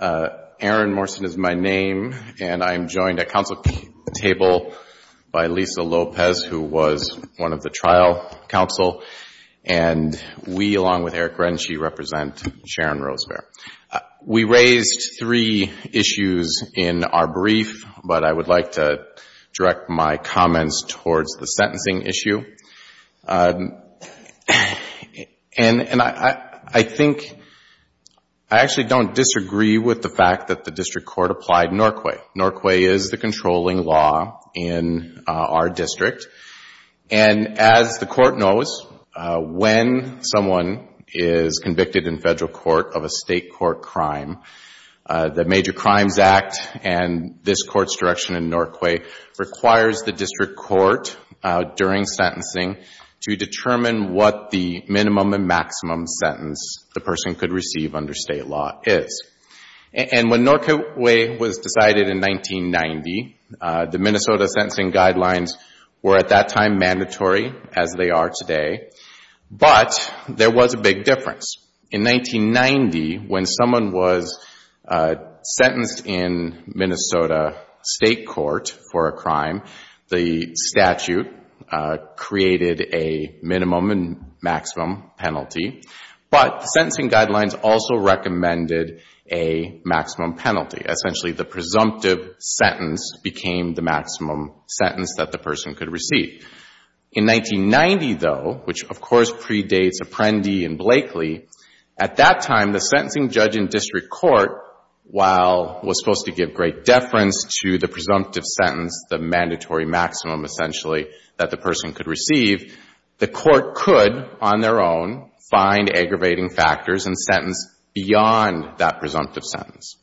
Aaron Morrison is my name, and I'm joined at council table by Lisa Lopez, who was one of the trial counsel, and we, along with Eric Renshaw, represent Sharon Rosebear. We raised three issues in our brief, but I would like to direct my comments towards the sentencing issue, and I think, I actually don't disagree with the fact that the district court applied Norquay. Norquay is the controlling law in our district, and as the court knows, when someone is convicted in federal court of a state court crime, the Major Crimes Act and this court's direction in Norquay requires the district court, during sentencing, to determine what the minimum and maximum sentence the person could receive under state law is. And when Norquay was decided in 1990, the Minnesota sentencing guidelines were at that time mandatory, as they are today, but there was a big difference. In 1990, when someone was sentenced in Minnesota state court for a crime, the statute created a minimum and maximum penalty, but the sentencing guidelines also recommended a maximum penalty. Essentially, the presumptive sentence became the maximum sentence that the person could receive. In 1990, though, which, of course, predates Apprendi and Blakely, at that time, the sentencing judge in district court, while it was supposed to give great deference to the presumptive sentence, the mandatory maximum, essentially, that the person could receive, the court could, on their own, find aggravating factors and sentence beyond that presumptive sentence.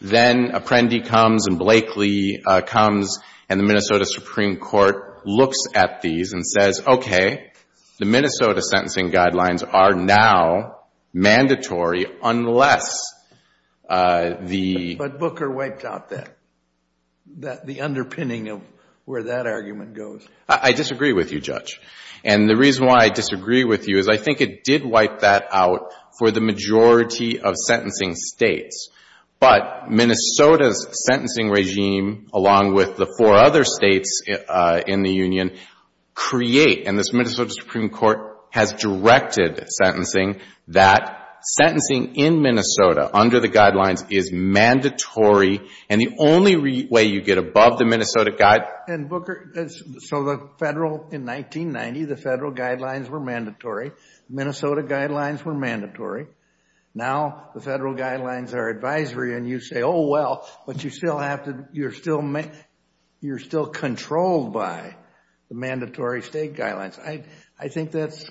Then Apprendi comes and Blakely comes and the Minnesota Supreme Court looks at these and says, okay, the Minnesota sentencing guidelines are now mandatory unless the... But Booker wiped out that, the underpinning of where that argument goes. I disagree with you, Judge, and the reason why I disagree with you is I think it did wipe that out for the majority of sentencing states, but Minnesota's sentencing regime along with the four other states in the union create, and this Minnesota Supreme Court has directed sentencing, that sentencing in Minnesota under the guidelines is mandatory, and the only way you get above the Minnesota guide... And, Booker, so the Federal, in 1990, the Federal guidelines were mandatory. Minnesota guidelines were mandatory. Now the Federal guidelines are advisory and you say, oh, well, but you still have to, you're still, you're still controlled by the mandatory state guidelines. I think that's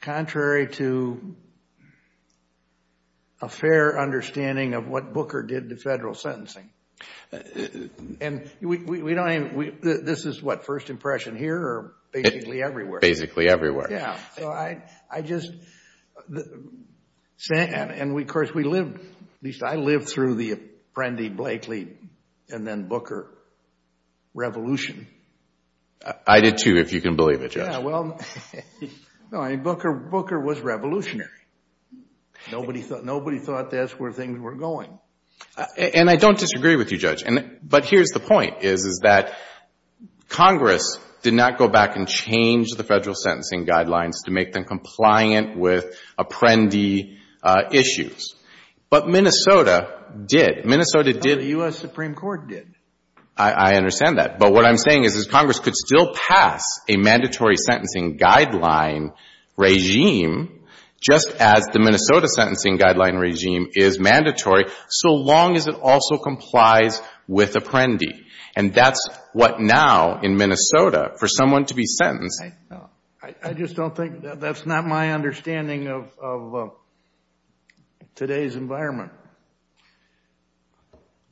contrary to a fair understanding of what Booker did to Federal sentencing. And we don't even, this is what, first impression here or basically everywhere? Basically everywhere. Yeah, so I just, and of course we lived, at least I lived through the Apprendi-Blakely and then Booker revolution. I did too, if you can believe it, Judge. Yeah, well, no, I mean, Booker was revolutionary. Nobody thought that's where things were going. And I don't disagree with you, Judge, but here's the point is, is that Congress did not go back and change the Federal sentencing guidelines to make them compliant with Apprendi issues. But Minnesota did. Minnesota did. The U.S. Supreme Court did. I understand that. But what I'm saying is, is Congress could still pass a mandatory sentencing guideline regime, just as the Minnesota sentencing guideline regime is mandatory, so long as it also complies with Apprendi. And that's what now, in Minnesota, for someone to be I just don't think, that's not my understanding of today's environment.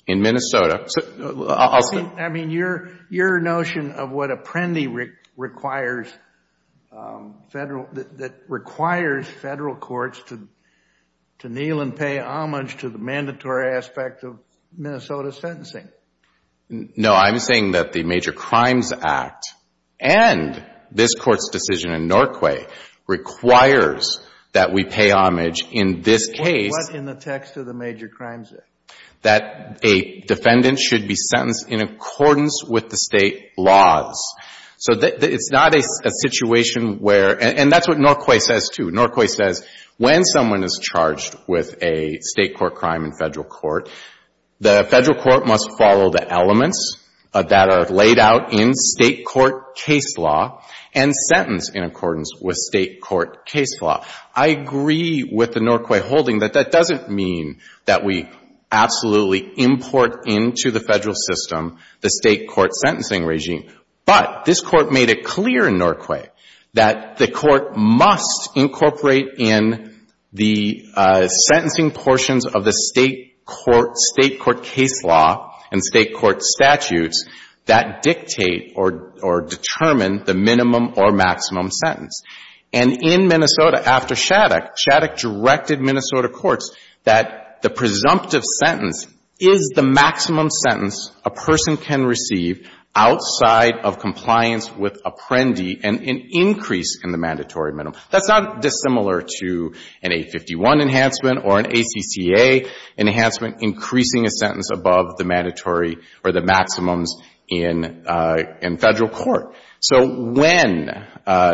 In Minnesota. I mean, your notion of what Apprendi requires Federal, that requires Federal courts to kneel and pay homage to the mandatory aspect of Minnesota sentencing. No, I'm saying that the Major Crimes Act and this Court's decision in Norquay requires that we pay homage in this case. What in the text of the Major Crimes Act? That a defendant should be sentenced in accordance with the state laws. So it's not a situation where, and that's what Norquay says, too. Norquay says when someone is charged with a State court crime in Federal court, the Federal court must follow the elements that are laid out in State court case law and sentence in accordance with State court case law. I agree with the Norquay holding that that doesn't mean that we absolutely import into the Federal system the State court sentencing regime. But this Court made it clear in Norquay that the Court must incorporate in the sentencing portions of the State court case law and State court statutes that dictate or determine the minimum or maximum sentence. And in Minnesota, after Shattuck, Shattuck directed Minnesota courts that the presumptive sentence is the maximum sentence a person can receive outside of compliance with Apprendi and an increase in the mandatory minimum. That's not dissimilar to an 851 enhancement or an ACCA enhancement increasing a sentence above the mandatory or the maximums in Federal court. So when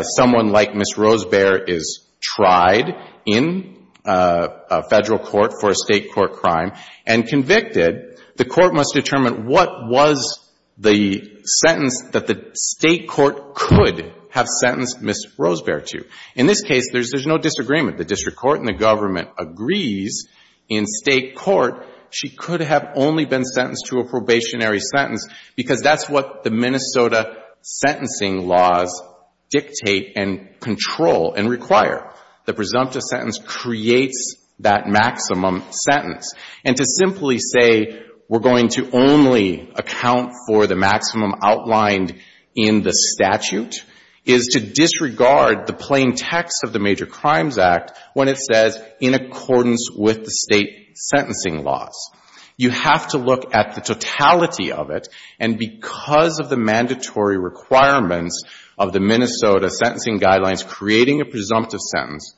someone like Ms. Rosebear is tried in Federal court for a State court crime, and convicted, the Court must determine what was the sentence that the State court could have sentenced Ms. Rosebear to. In this case, there's no disagreement. The district court and the government agrees in State court she could have only been sentenced to a probationary sentence because that's what the Minnesota sentencing laws dictate and control and require. The presumptive sentence creates that maximum sentence. And to simply say we're going to only account for the maximum outlined in the statute is to disregard the plain text of the Major Crimes Act when it says in accordance with the State sentencing laws. You have to look at the totality of it. And because of the mandatory requirements of the Minnesota sentencing guidelines, creating a presumptive sentence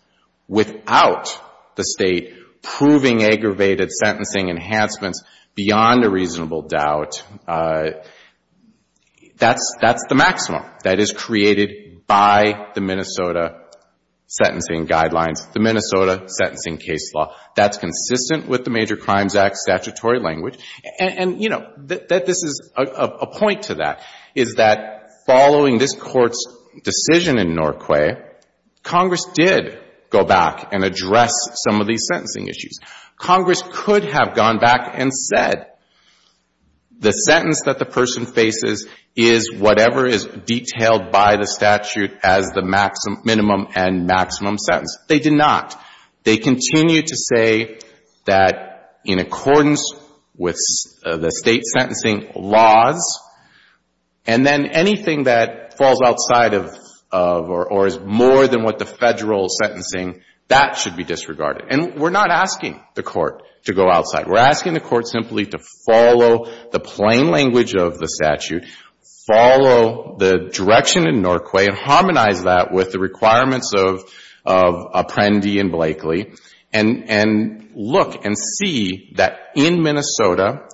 without the State proving aggravated sentencing enhancements beyond a reasonable doubt, that's the maximum that is created by the Minnesota sentencing guidelines, the Minnesota sentencing case law. That's consistent with the Major Crimes Act statutory language. And you know, this is a point to that, is that following this Court's decision in Norquay, Congress did go back and address some of these sentencing issues. Congress could have gone back and said the sentence that the person faces is whatever is detailed by the statute as the minimum and maximum sentence. They did not. They continued to say that in accordance with the State sentencing laws and then anything that falls outside of or is more than what the Federal sentencing, that should be disregarded. And we're not asking the Court to go outside. We're asking the Court simply to follow the plain language of the statute, follow the direction in Norquay and harmonize that with the requirements of Apprendi and Blakely and look and see that in Minnesota,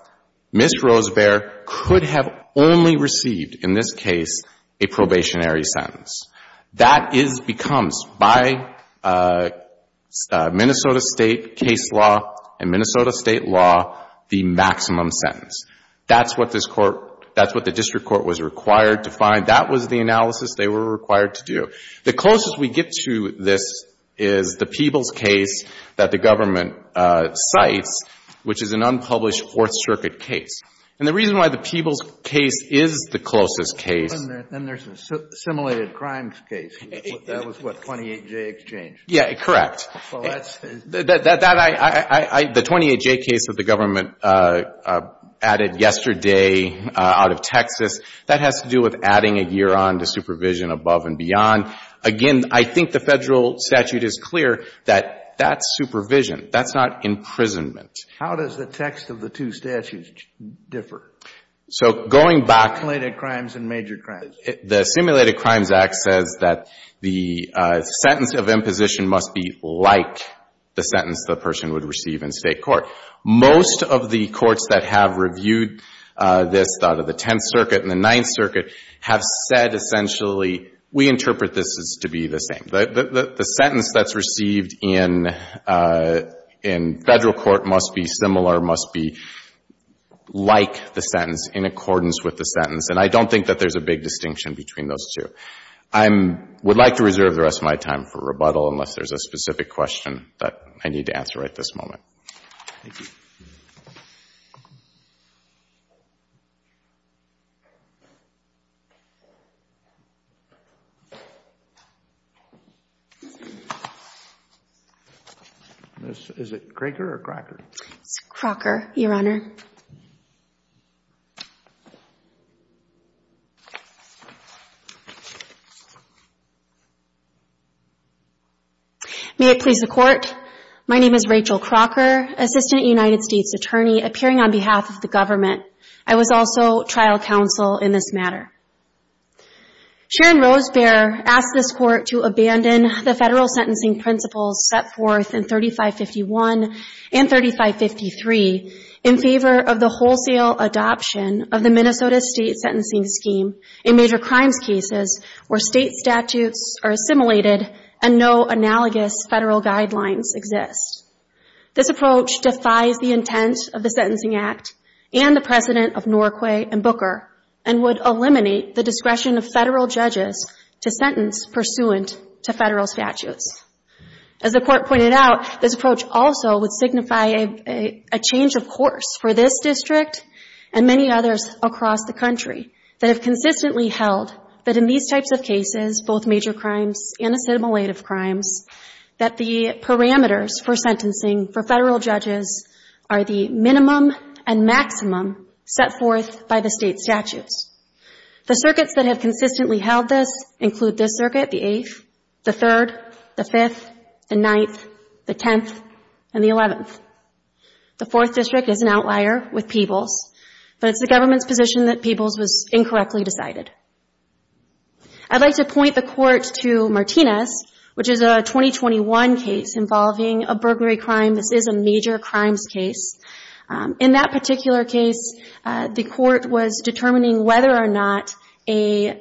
Ms. Rosebear could have only received in this case a probationary sentence. That becomes by Minnesota State case law and Minnesota State law the maximum sentence. That's what this Court, that's what the District Court was required to find. That was the analysis they were required to do. The closest we get to this is the Peebles case that the government cites, which is an unpublished Fourth Circuit case. And the reason why the Peebles case is the closest case is that the 28J case that the government added yesterday out of Texas, that has to do with the supervision above and beyond. Again, I think the Federal statute is clear that that's supervision. That's not imprisonment. Kennedy. How does the text of the two statutes differ? Cohn. So going back Kennedy. Simulated crimes and major crimes. Cohn. The Simulated Crimes Act says that the sentence of imposition must be like the sentence the person would receive in State court. Most of the courts that have reviewed this out of the Tenth Circuit and the Ninth Circuit have said essentially, we interpret this as to be the same. The sentence that's received in Federal court must be similar, must be like the sentence, in accordance with the sentence. And I don't think that there's a big distinction between those two. I would like to reserve the rest of my time for rebuttal unless there's a specific question that I need to answer right this moment. Ms. Is it Craker or Crocker? It's Crocker, Your Honor. May it please the Court, my name is Rachel Crocker, Assistant United States Attorney, appearing on behalf of the government. I was also trial counsel in this matter. Sharon Rosebear asked this Court to abandon the Federal sentencing principles set forth in 3551 and 3553 in favor of the wholesale adoption of the Minnesota State Sentencing Scheme in major crimes cases where State statutes are assimilated and no analogous Federal guidelines exist. This approach defies the intent of the Sentencing Act and the precedent of Norquay and Booker and would eliminate the discretion of Federal judges to sentence pursuant to Federal statutes. As the Court pointed out, this approach also would signify a change of course for this District and many others across the country that have consistently held that in these types of cases, both major crimes and assimilated crimes, that the parameters for sentencing for Federal judges are the minimum and maximum set forth by the State statutes. The circuits that have consistently held this include this circuit, the Eighth, the Third, the Fifth, the Ninth, the Tenth, and the Eleventh. The Fourth District is an entire with Peebles, but it's the government's position that Peebles was incorrectly decided. I'd like to point the Court to Martinez, which is a 2021 case involving a burglary crime. This is a major crimes case. In that particular case, the Court was determining whether or not a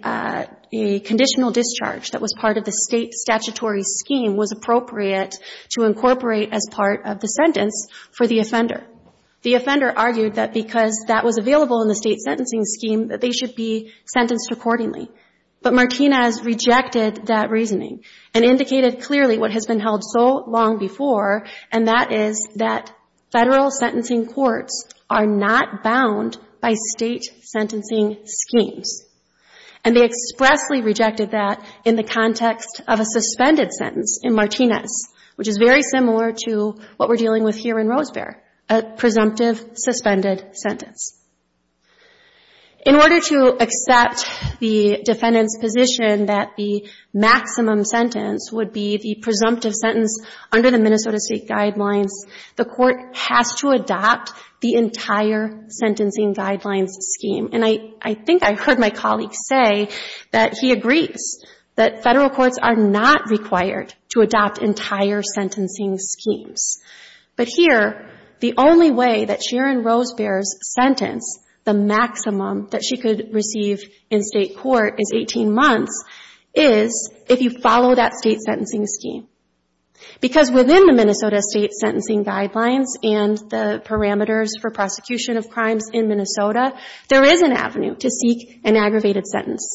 conditional discharge that was part of the State statutory scheme was appropriate to incorporate as part of the sentence for the offender. The offender argued that because that was available in the State sentencing scheme, that they should be sentenced accordingly. But Martinez rejected that reasoning and indicated clearly what has been held so long before, and that is that Federal sentencing courts are not bound by State sentencing schemes. And they expressly rejected that in the context of a suspended sentence in Martinez, which is very similar to what we're dealing with here in Rosebear, a presumptive suspended sentence. In order to accept the defendant's position that the maximum sentence would be the presumptive sentence under the Minnesota State guidelines, the Court has to adopt the entire sentencing guidelines scheme. And I think I heard my colleague say that he agrees that Federal courts are not required to adopt entire sentencing schemes. But here, the only way that Sharon Rosebear's sentence, the maximum that she could receive in State court, is 18 months, is if you follow that State sentencing scheme. Because within the Minnesota State sentencing guidelines and the parameters for prosecution of crimes in Minnesota, there is an avenue to seek an aggravated sentence.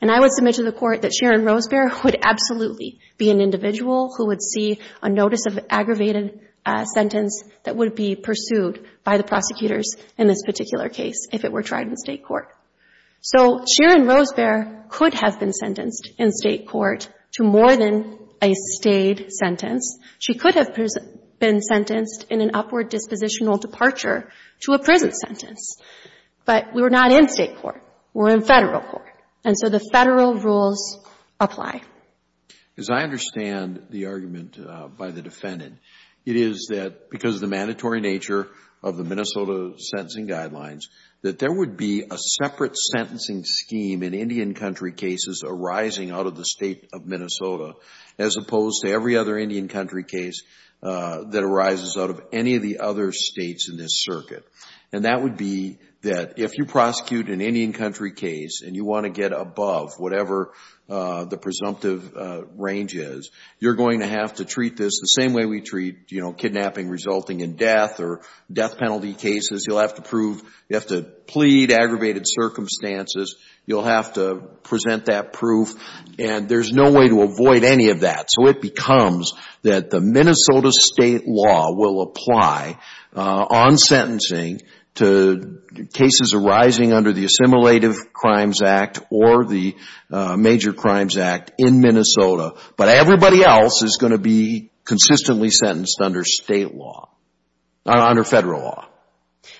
And I would submit to the Court that Sharon Rosebear would absolutely be an individual who would see a notice of aggravated sentence that would be pursued by the prosecutors in this particular case, if it were tried in State court. So Sharon Rosebear could have been sentenced in State court to more than a State sentence. She could have been sentenced in an upward dispositional departure to a prison sentence. But we're not in State court. We're in Federal court. And so the Federal rules apply. As I understand the argument by the defendant, it is that because of the mandatory nature of the Minnesota sentencing guidelines, that there would be a separate sentencing scheme in Indian country cases arising out of the State of Minnesota, as opposed to every other Indian country case that arises out of any of the other States in this circuit. And that would be that if you prosecute an Indian country case and you want to get above whatever the presumptive range is, you're going to have to treat this the same way we treat, you know, kidnapping resulting in death or death penalty cases. You'll have to prove, you'll have to plead aggravated circumstances. You'll have to present that proof. And there's no way to avoid any of that. So it becomes that the Minnesota State law will apply on sentencing to cases arising under the Assimilative Crimes Act or the Major Crimes Act in Minnesota. But everybody else is going to be consistently sentenced under State law, under Federal law.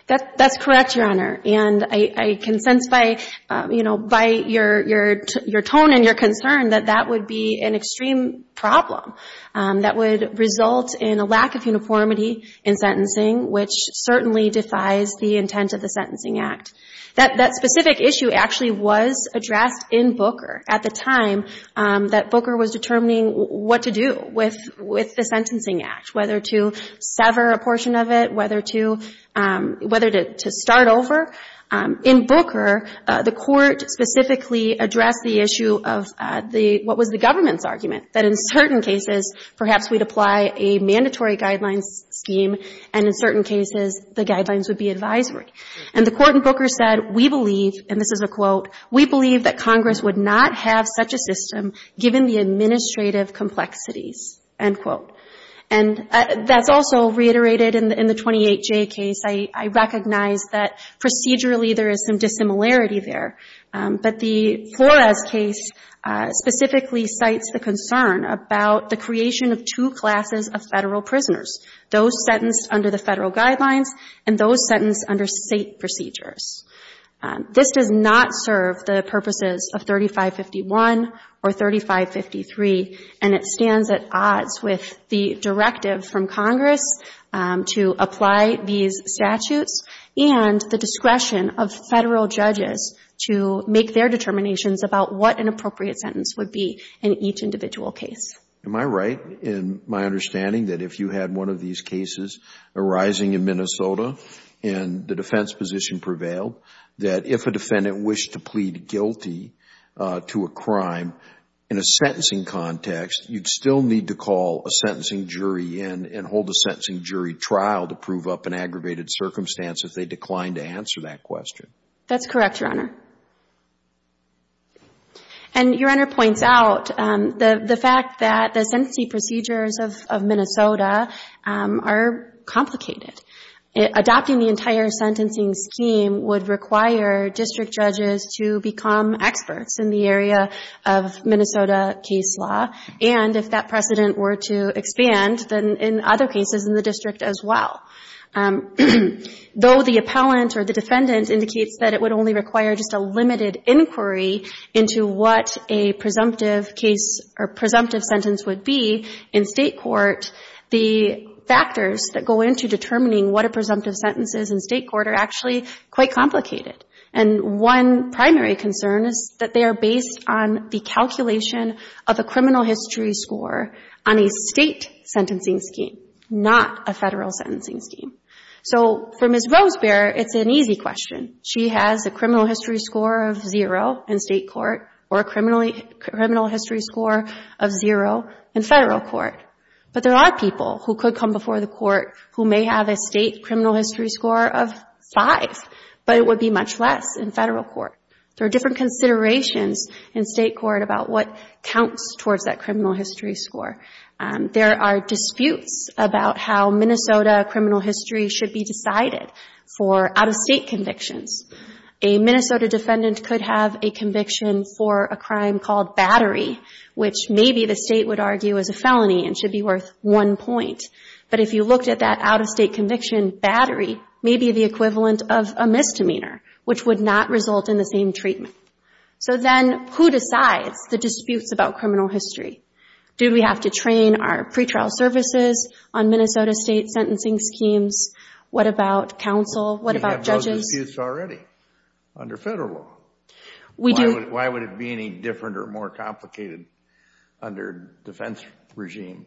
That's correct, Your Honor. And I can sense by, you know, by your tone and your concern that that would be an extreme problem that would result in a lack of uniformity in sentencing, which certainly defies the intent of the Sentencing Act. That specific issue actually was addressed in Booker at the time that Booker was determining what to do with the Sentencing Act, whether to sever a portion of it, whether to start over. In Booker, the Court specifically addressed the issue of the, what was the government's argument, that in certain cases perhaps we'd apply a mandatory guidelines scheme and in certain cases the guidelines would be advisory. And the Court in Booker said, we believe, and this is a quote, we believe that Congress would not have such a system given the administrative complexities, end quote. And that's also reiterated in the 28J case. I recognize that procedurally there is some dissimilarity there. But the Flores case specifically cites the concern about the creation of two classes of Federal prisoners, those sentenced under the Federal guidelines and those sentenced under State procedures. This does not serve the purposes of 3551 or 3553 and it stands at odds with the directive from Congress to apply these statutes and the discretion of Federal judges to make their determinations about what an appropriate sentence would be in each individual case. Am I right in my understanding that if you had one of these cases arising in Minnesota and the defense position prevailed, that if a defendant wished to plead guilty to a crime in a sentencing context, you'd still need to call a sentencing jury in and hold a sentencing jury trial to prove up an aggravated circumstance if they declined to answer that question? That's correct, Your Honor. And Your Honor points out the fact that the sentencing procedures of Minnesota are complicated. Adopting the entire sentencing scheme would require district judges to become experts in the area of Minnesota case law. And if that precedent were to expand, then in other cases in the district as well. Though the appellant or the defendant indicates that it would only require just a limited inquiry into what a presumptive case or presumptive sentence would be in state court, the factors that go into determining what a presumptive sentence is in state court are actually quite complicated. And one primary concern is that they are based on the calculation of a criminal history score on a state sentencing scheme, not a Federal sentencing scheme. So for Ms. Rosebearer, it's an easy question. She has a criminal history score of zero in state court or a criminal history score of zero in Federal court. But there are people who could come before the court who may have a state criminal history score of five, but it would be much less in Federal court. There are different considerations in state court about what counts towards that criminal history score. There are disputes about how Minnesota criminal history should be decided for out-of-state convictions. A Minnesota defendant could have a conviction for a crime called battery, which maybe the state would argue is a felony and should be worth one point. But if you looked at that out-of-state conviction, battery may be the equivalent of a misdemeanor, which would not result in the same treatment. So then who decides the disputes about criminal history? Do we have to train our pretrial services on Minnesota state sentencing schemes? What about counsel? What about judges? We have disputes already under Federal law. Why would it be any different or more complicated under defense regime?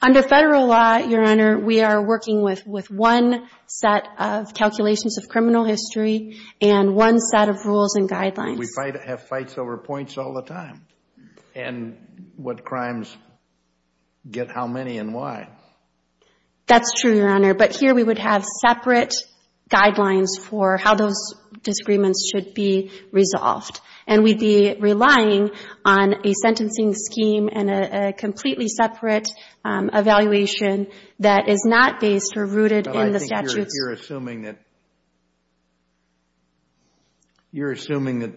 Under Federal law, Your Honor, we are working with one set of calculations of criminal history and one set of rules and guidelines. We have fights over points all the time. And what crimes get how many and why? That's true, Your Honor. But here we would have separate guidelines for how those disagreements should be resolved. And we'd be relying on a sentencing scheme and a completely separate evaluation that is not based or rooted in the statutes. I think you're assuming that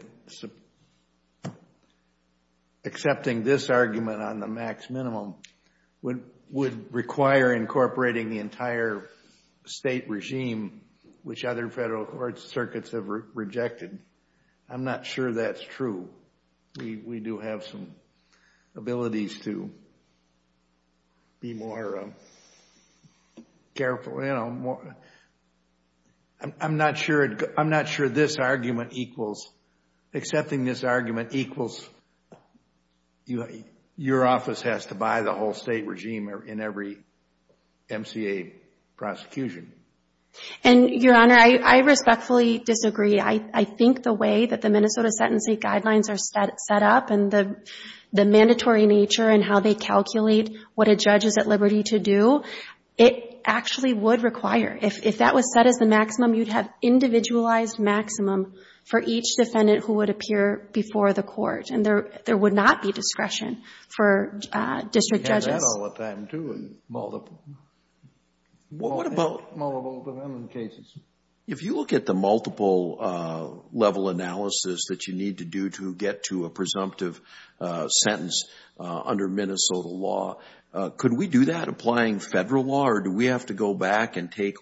accepting this argument on the max minimum would require incorporating the entire state regime, which other Federal court circuits have rejected. I'm not sure that's true. We do have some abilities to be more careful. I'm not sure this argument equals, accepting this argument equals your office has to buy the whole state regime in every MCA prosecution. And Your Honor, I respectfully disagree. I think the way that the Minnesota sentencing guidelines are set up and the mandatory nature and how they calculate what a judge is at liberty to do, it actually would require, if that was set as the maximum, you'd have individualized maximum for each defendant who would appear before the court. And there would not be discretion for district judges. We have that all the time, too, in multiple defendant cases. If you look at the multiple level analysis that you need to do to get to a presumptive sentence under Minnesota law, could we do that applying Federal law? Or do we have to go back and take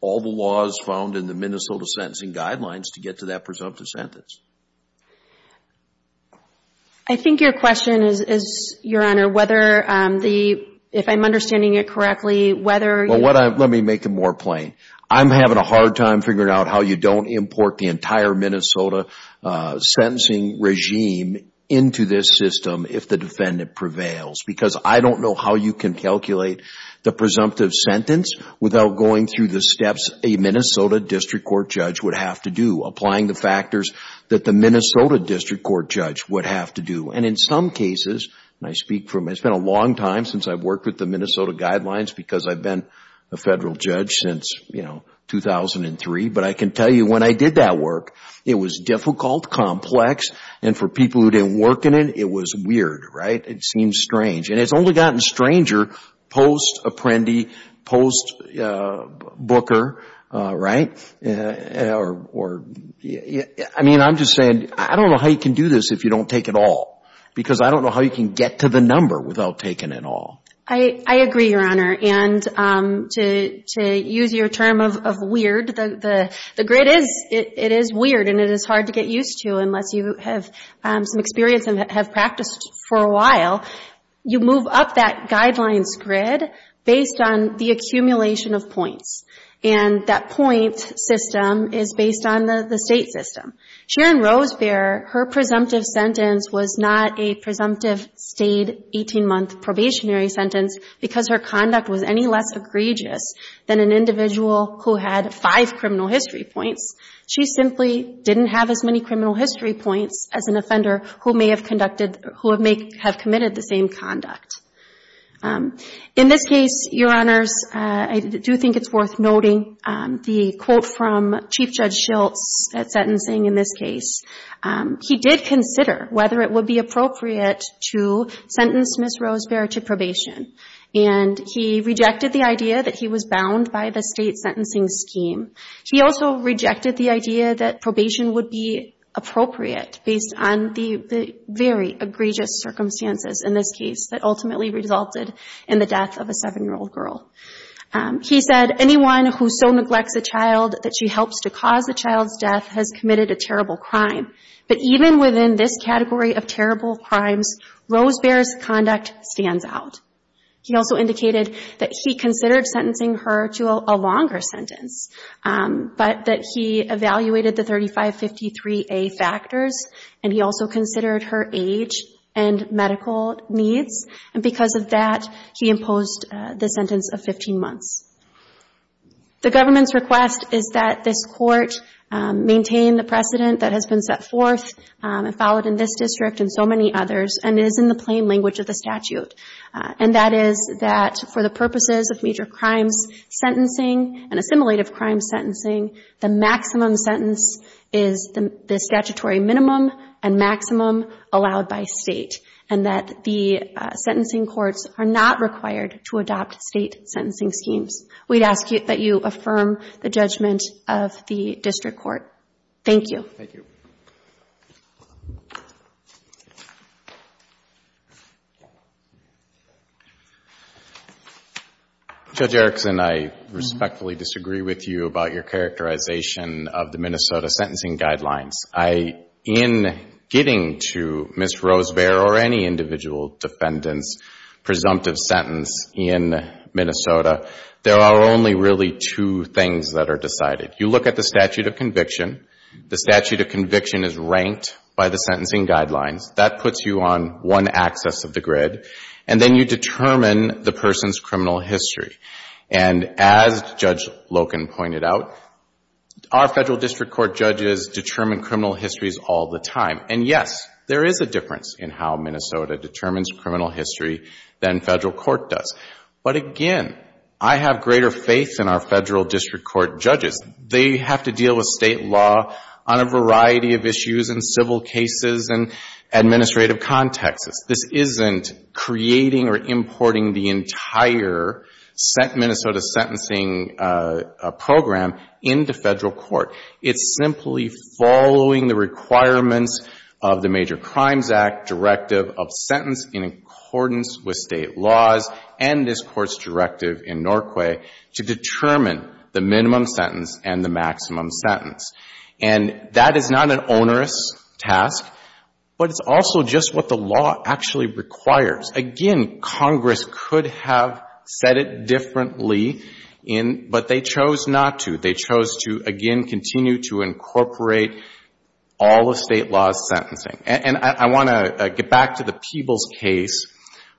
all the laws found in the Minnesota sentencing guidelines to get to that presumptive sentence? I think your question is, Your Honor, whether the, if I'm understanding it correctly, whether you... Well, let me make it more plain. I'm having a hard time figuring out how you don't import the entire Minnesota sentencing regime into this system if the defendant prevails. Because I don't know how you can calculate the presumptive sentence without going through the steps a Minnesota district court judge would have to do, applying the factors that the Minnesota district court judge would have to do. And in some cases, and I speak from, it's been a long time since I've worked with the Minnesota guidelines because I've been a Federal judge since, you know, 2003. But I can tell you when I did that work, it was difficult, complex, and for people who didn't work in it, it was weird, right? It seemed strange. And it's only gotten stranger post-apprendee, post-booker, right? I mean, I'm just saying, I don't know how you can do this if you don't take it all. Because I don't know how you can get to the number without taking it all. I agree, Your Honor. And to use your term of weird, the grid is, it is weird and it is hard to get used to unless you have some experience and have practiced for a while. You move up that guidelines grid based on the accumulation of points. And that point system is based on the state system. Sharon Rosebear, her presumptive sentence was not a presumptive stayed 18-month probationary sentence because her conduct was any less egregious than an individual who had five criminal history points. She simply didn't have as many criminal history points as an offender who may have conducted, who may have committed the same conduct. In this case, Your Honors, I do think it's worth noting the quote from Chief Judge Schiltz at sentencing in this case. He did consider whether it would be appropriate to sentence Ms. Rosebear to probation. And he rejected the idea that he was bound by the state sentencing scheme. He also rejected the idea that probation would be appropriate based on the very egregious circumstances in this case that ultimately resulted in the death of a seven-year-old girl. He said, anyone who so neglects a child that she helps to cause the child's death has committed a terrible crime. But even within this category of terrible crimes, Rosebear's conduct stands out. He also indicated that he considered sentencing her to a longer sentence, but that he evaluated the 3553A factors and he also considered her age and medical needs. And because of that, he imposed the sentence of 15 months. The government's request is that this court maintain the precedent that has been set forth and followed in this district and so many others and is in the plain language of the statute. And that is that for the purposes of major crimes sentencing and assimilative crimes sentencing, the maximum sentence is the statutory minimum and maximum allowed by state. And that the sentencing courts are not required to adopt state sentencing schemes. We'd ask that you affirm the judgment of the district court. Thank you. Judge Erickson, I respectfully disagree with you about your characterization of the Minnesota sentencing guidelines. In getting to Ms. Rosebear or any individual defendant's presumptive sentence in Minnesota, there are only really two things that are decided. You look at the statute of conviction. The statute of conviction is ranked by the sentencing guidelines. That puts you on one axis of the grid. And then you determine the person's criminal history. And as Judge Loken pointed out, our federal district court judges determine criminal histories all the time. And yes, there is a difference in how Minnesota determines criminal history than federal court does. But again, I have greater faith in our federal district court judges. They have to deal with state law on a variety of issues in civil cases and administrative contexts. This isn't creating or importing the entire Minnesota sentencing program into federal court. It's simply following the requirements of the Major Crimes Act directive of sentence in accordance with state laws and this Court's directive in Norquay to determine the minimum sentence and the maximum sentence. And that is not an onerous task, but it's also just what the law actually requires. Again, Congress could have said it differently in, but they chose not to. They chose to, again, continue to incorporate all of state law's sentencing. And I want to get back to the Peebles case,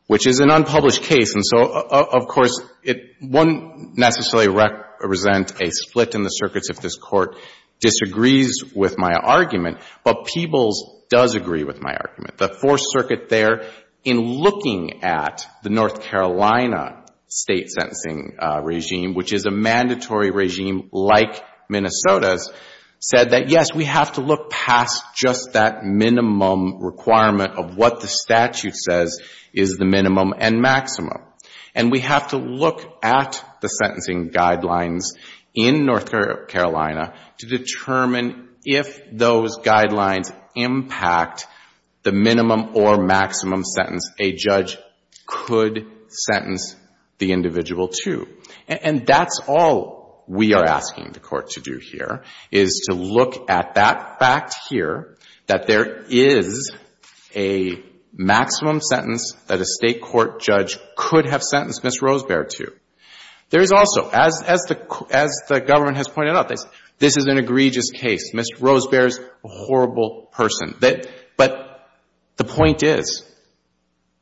which is an unpublished case. And so, of course, it wouldn't necessarily represent a split in the circuits if this Court disagrees with my argument. But Peebles does agree with my argument. The Fourth Circuit there, in looking at the North Carolina state sentencing regime, which is a mandatory regime like Minnesota's, said that, yes, we have to look past just that minimum requirement of what the statute says is the minimum and maximum. And we have to look at the sentencing guidelines in North Carolina to determine if those guidelines impact the minimum or maximum sentence a judge could sentence the individual to. And that's all we are asking the Court to do here, is to look at that fact here, that there is a maximum sentence that a State court judge could have sentenced Ms. Rosebeer to. There is also, as the Government has pointed out, this is an egregious case. Ms. Rosebeer is a horrible person. But the point is,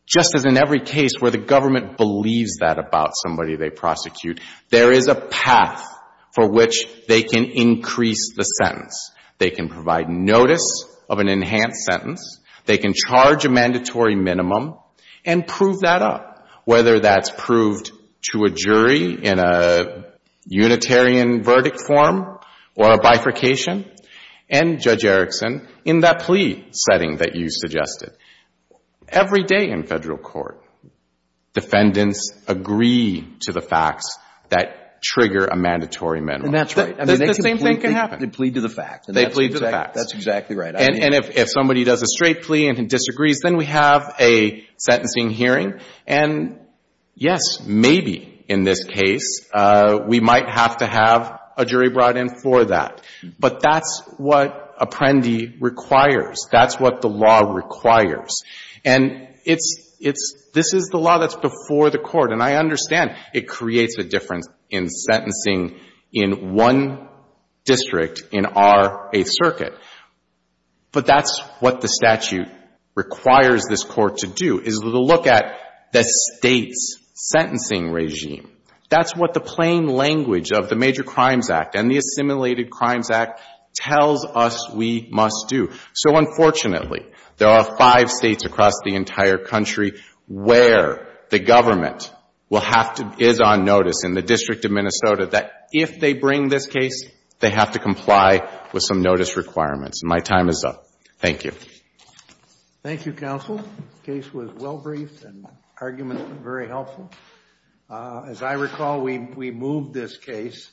just as in every case where the Government believes that about somebody they prosecute, there is a path for which they can increase the sentence. They can provide notice of an enhanced sentence. They can charge a mandatory minimum and prove that up, whether that's proved to a jury in a Unitarian verdict form or a bifurcation. And, Judge Erickson, in that plea setting that you suggested, every day in Federal court, defendants agree to the facts that trigger a mandatory minimum. And that's right. The same thing can happen. They plead to the facts. They plead to the facts. That's exactly right. And if somebody does a straight plea and disagrees, then we have a sentencing hearing. And yes, maybe in this case we might have to have a jury brought in for that. But that's what Apprendi requires. That's what the law requires. And it's, this is the law that's before the court. And I understand it creates a difference in sentencing in one district in our Eighth Circuit. But that's what the statute requires this court to do, is to look at the State's sentencing regime. That's what the plain language of the Major Crimes Act and the Assimilated Crimes Act tells us we must do. So, unfortunately, there are five States across the entire country where the government will have to, is on notice in the District of Minnesota, that if they bring this case, they have to comply with some notice requirements. And my time is up. Thank you. Thank you, counsel. The case was well briefed and the arguments were very helpful. As I recall, we moved this case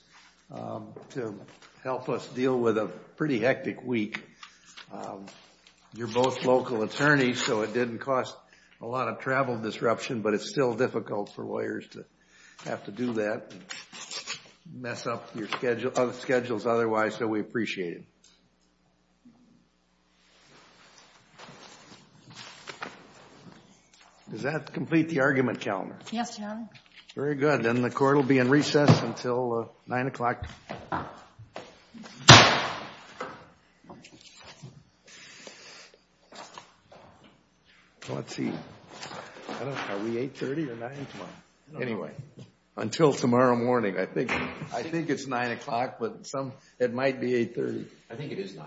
to help us deal with a pretty hectic week in Minnesota. You're both local attorneys, so it didn't cost a lot of travel disruption, but it's still difficult for lawyers to have to do that and mess up your schedules otherwise, so we appreciate it. Does that complete the argument calendar? Yes, Your Honor. Very good. Then the court will be in recess until 9 o'clock. Let's see. Are we 8.30 or 9? Anyway, until tomorrow morning. I think it's 9 o'clock, but it might be 8.30. I think it is 9.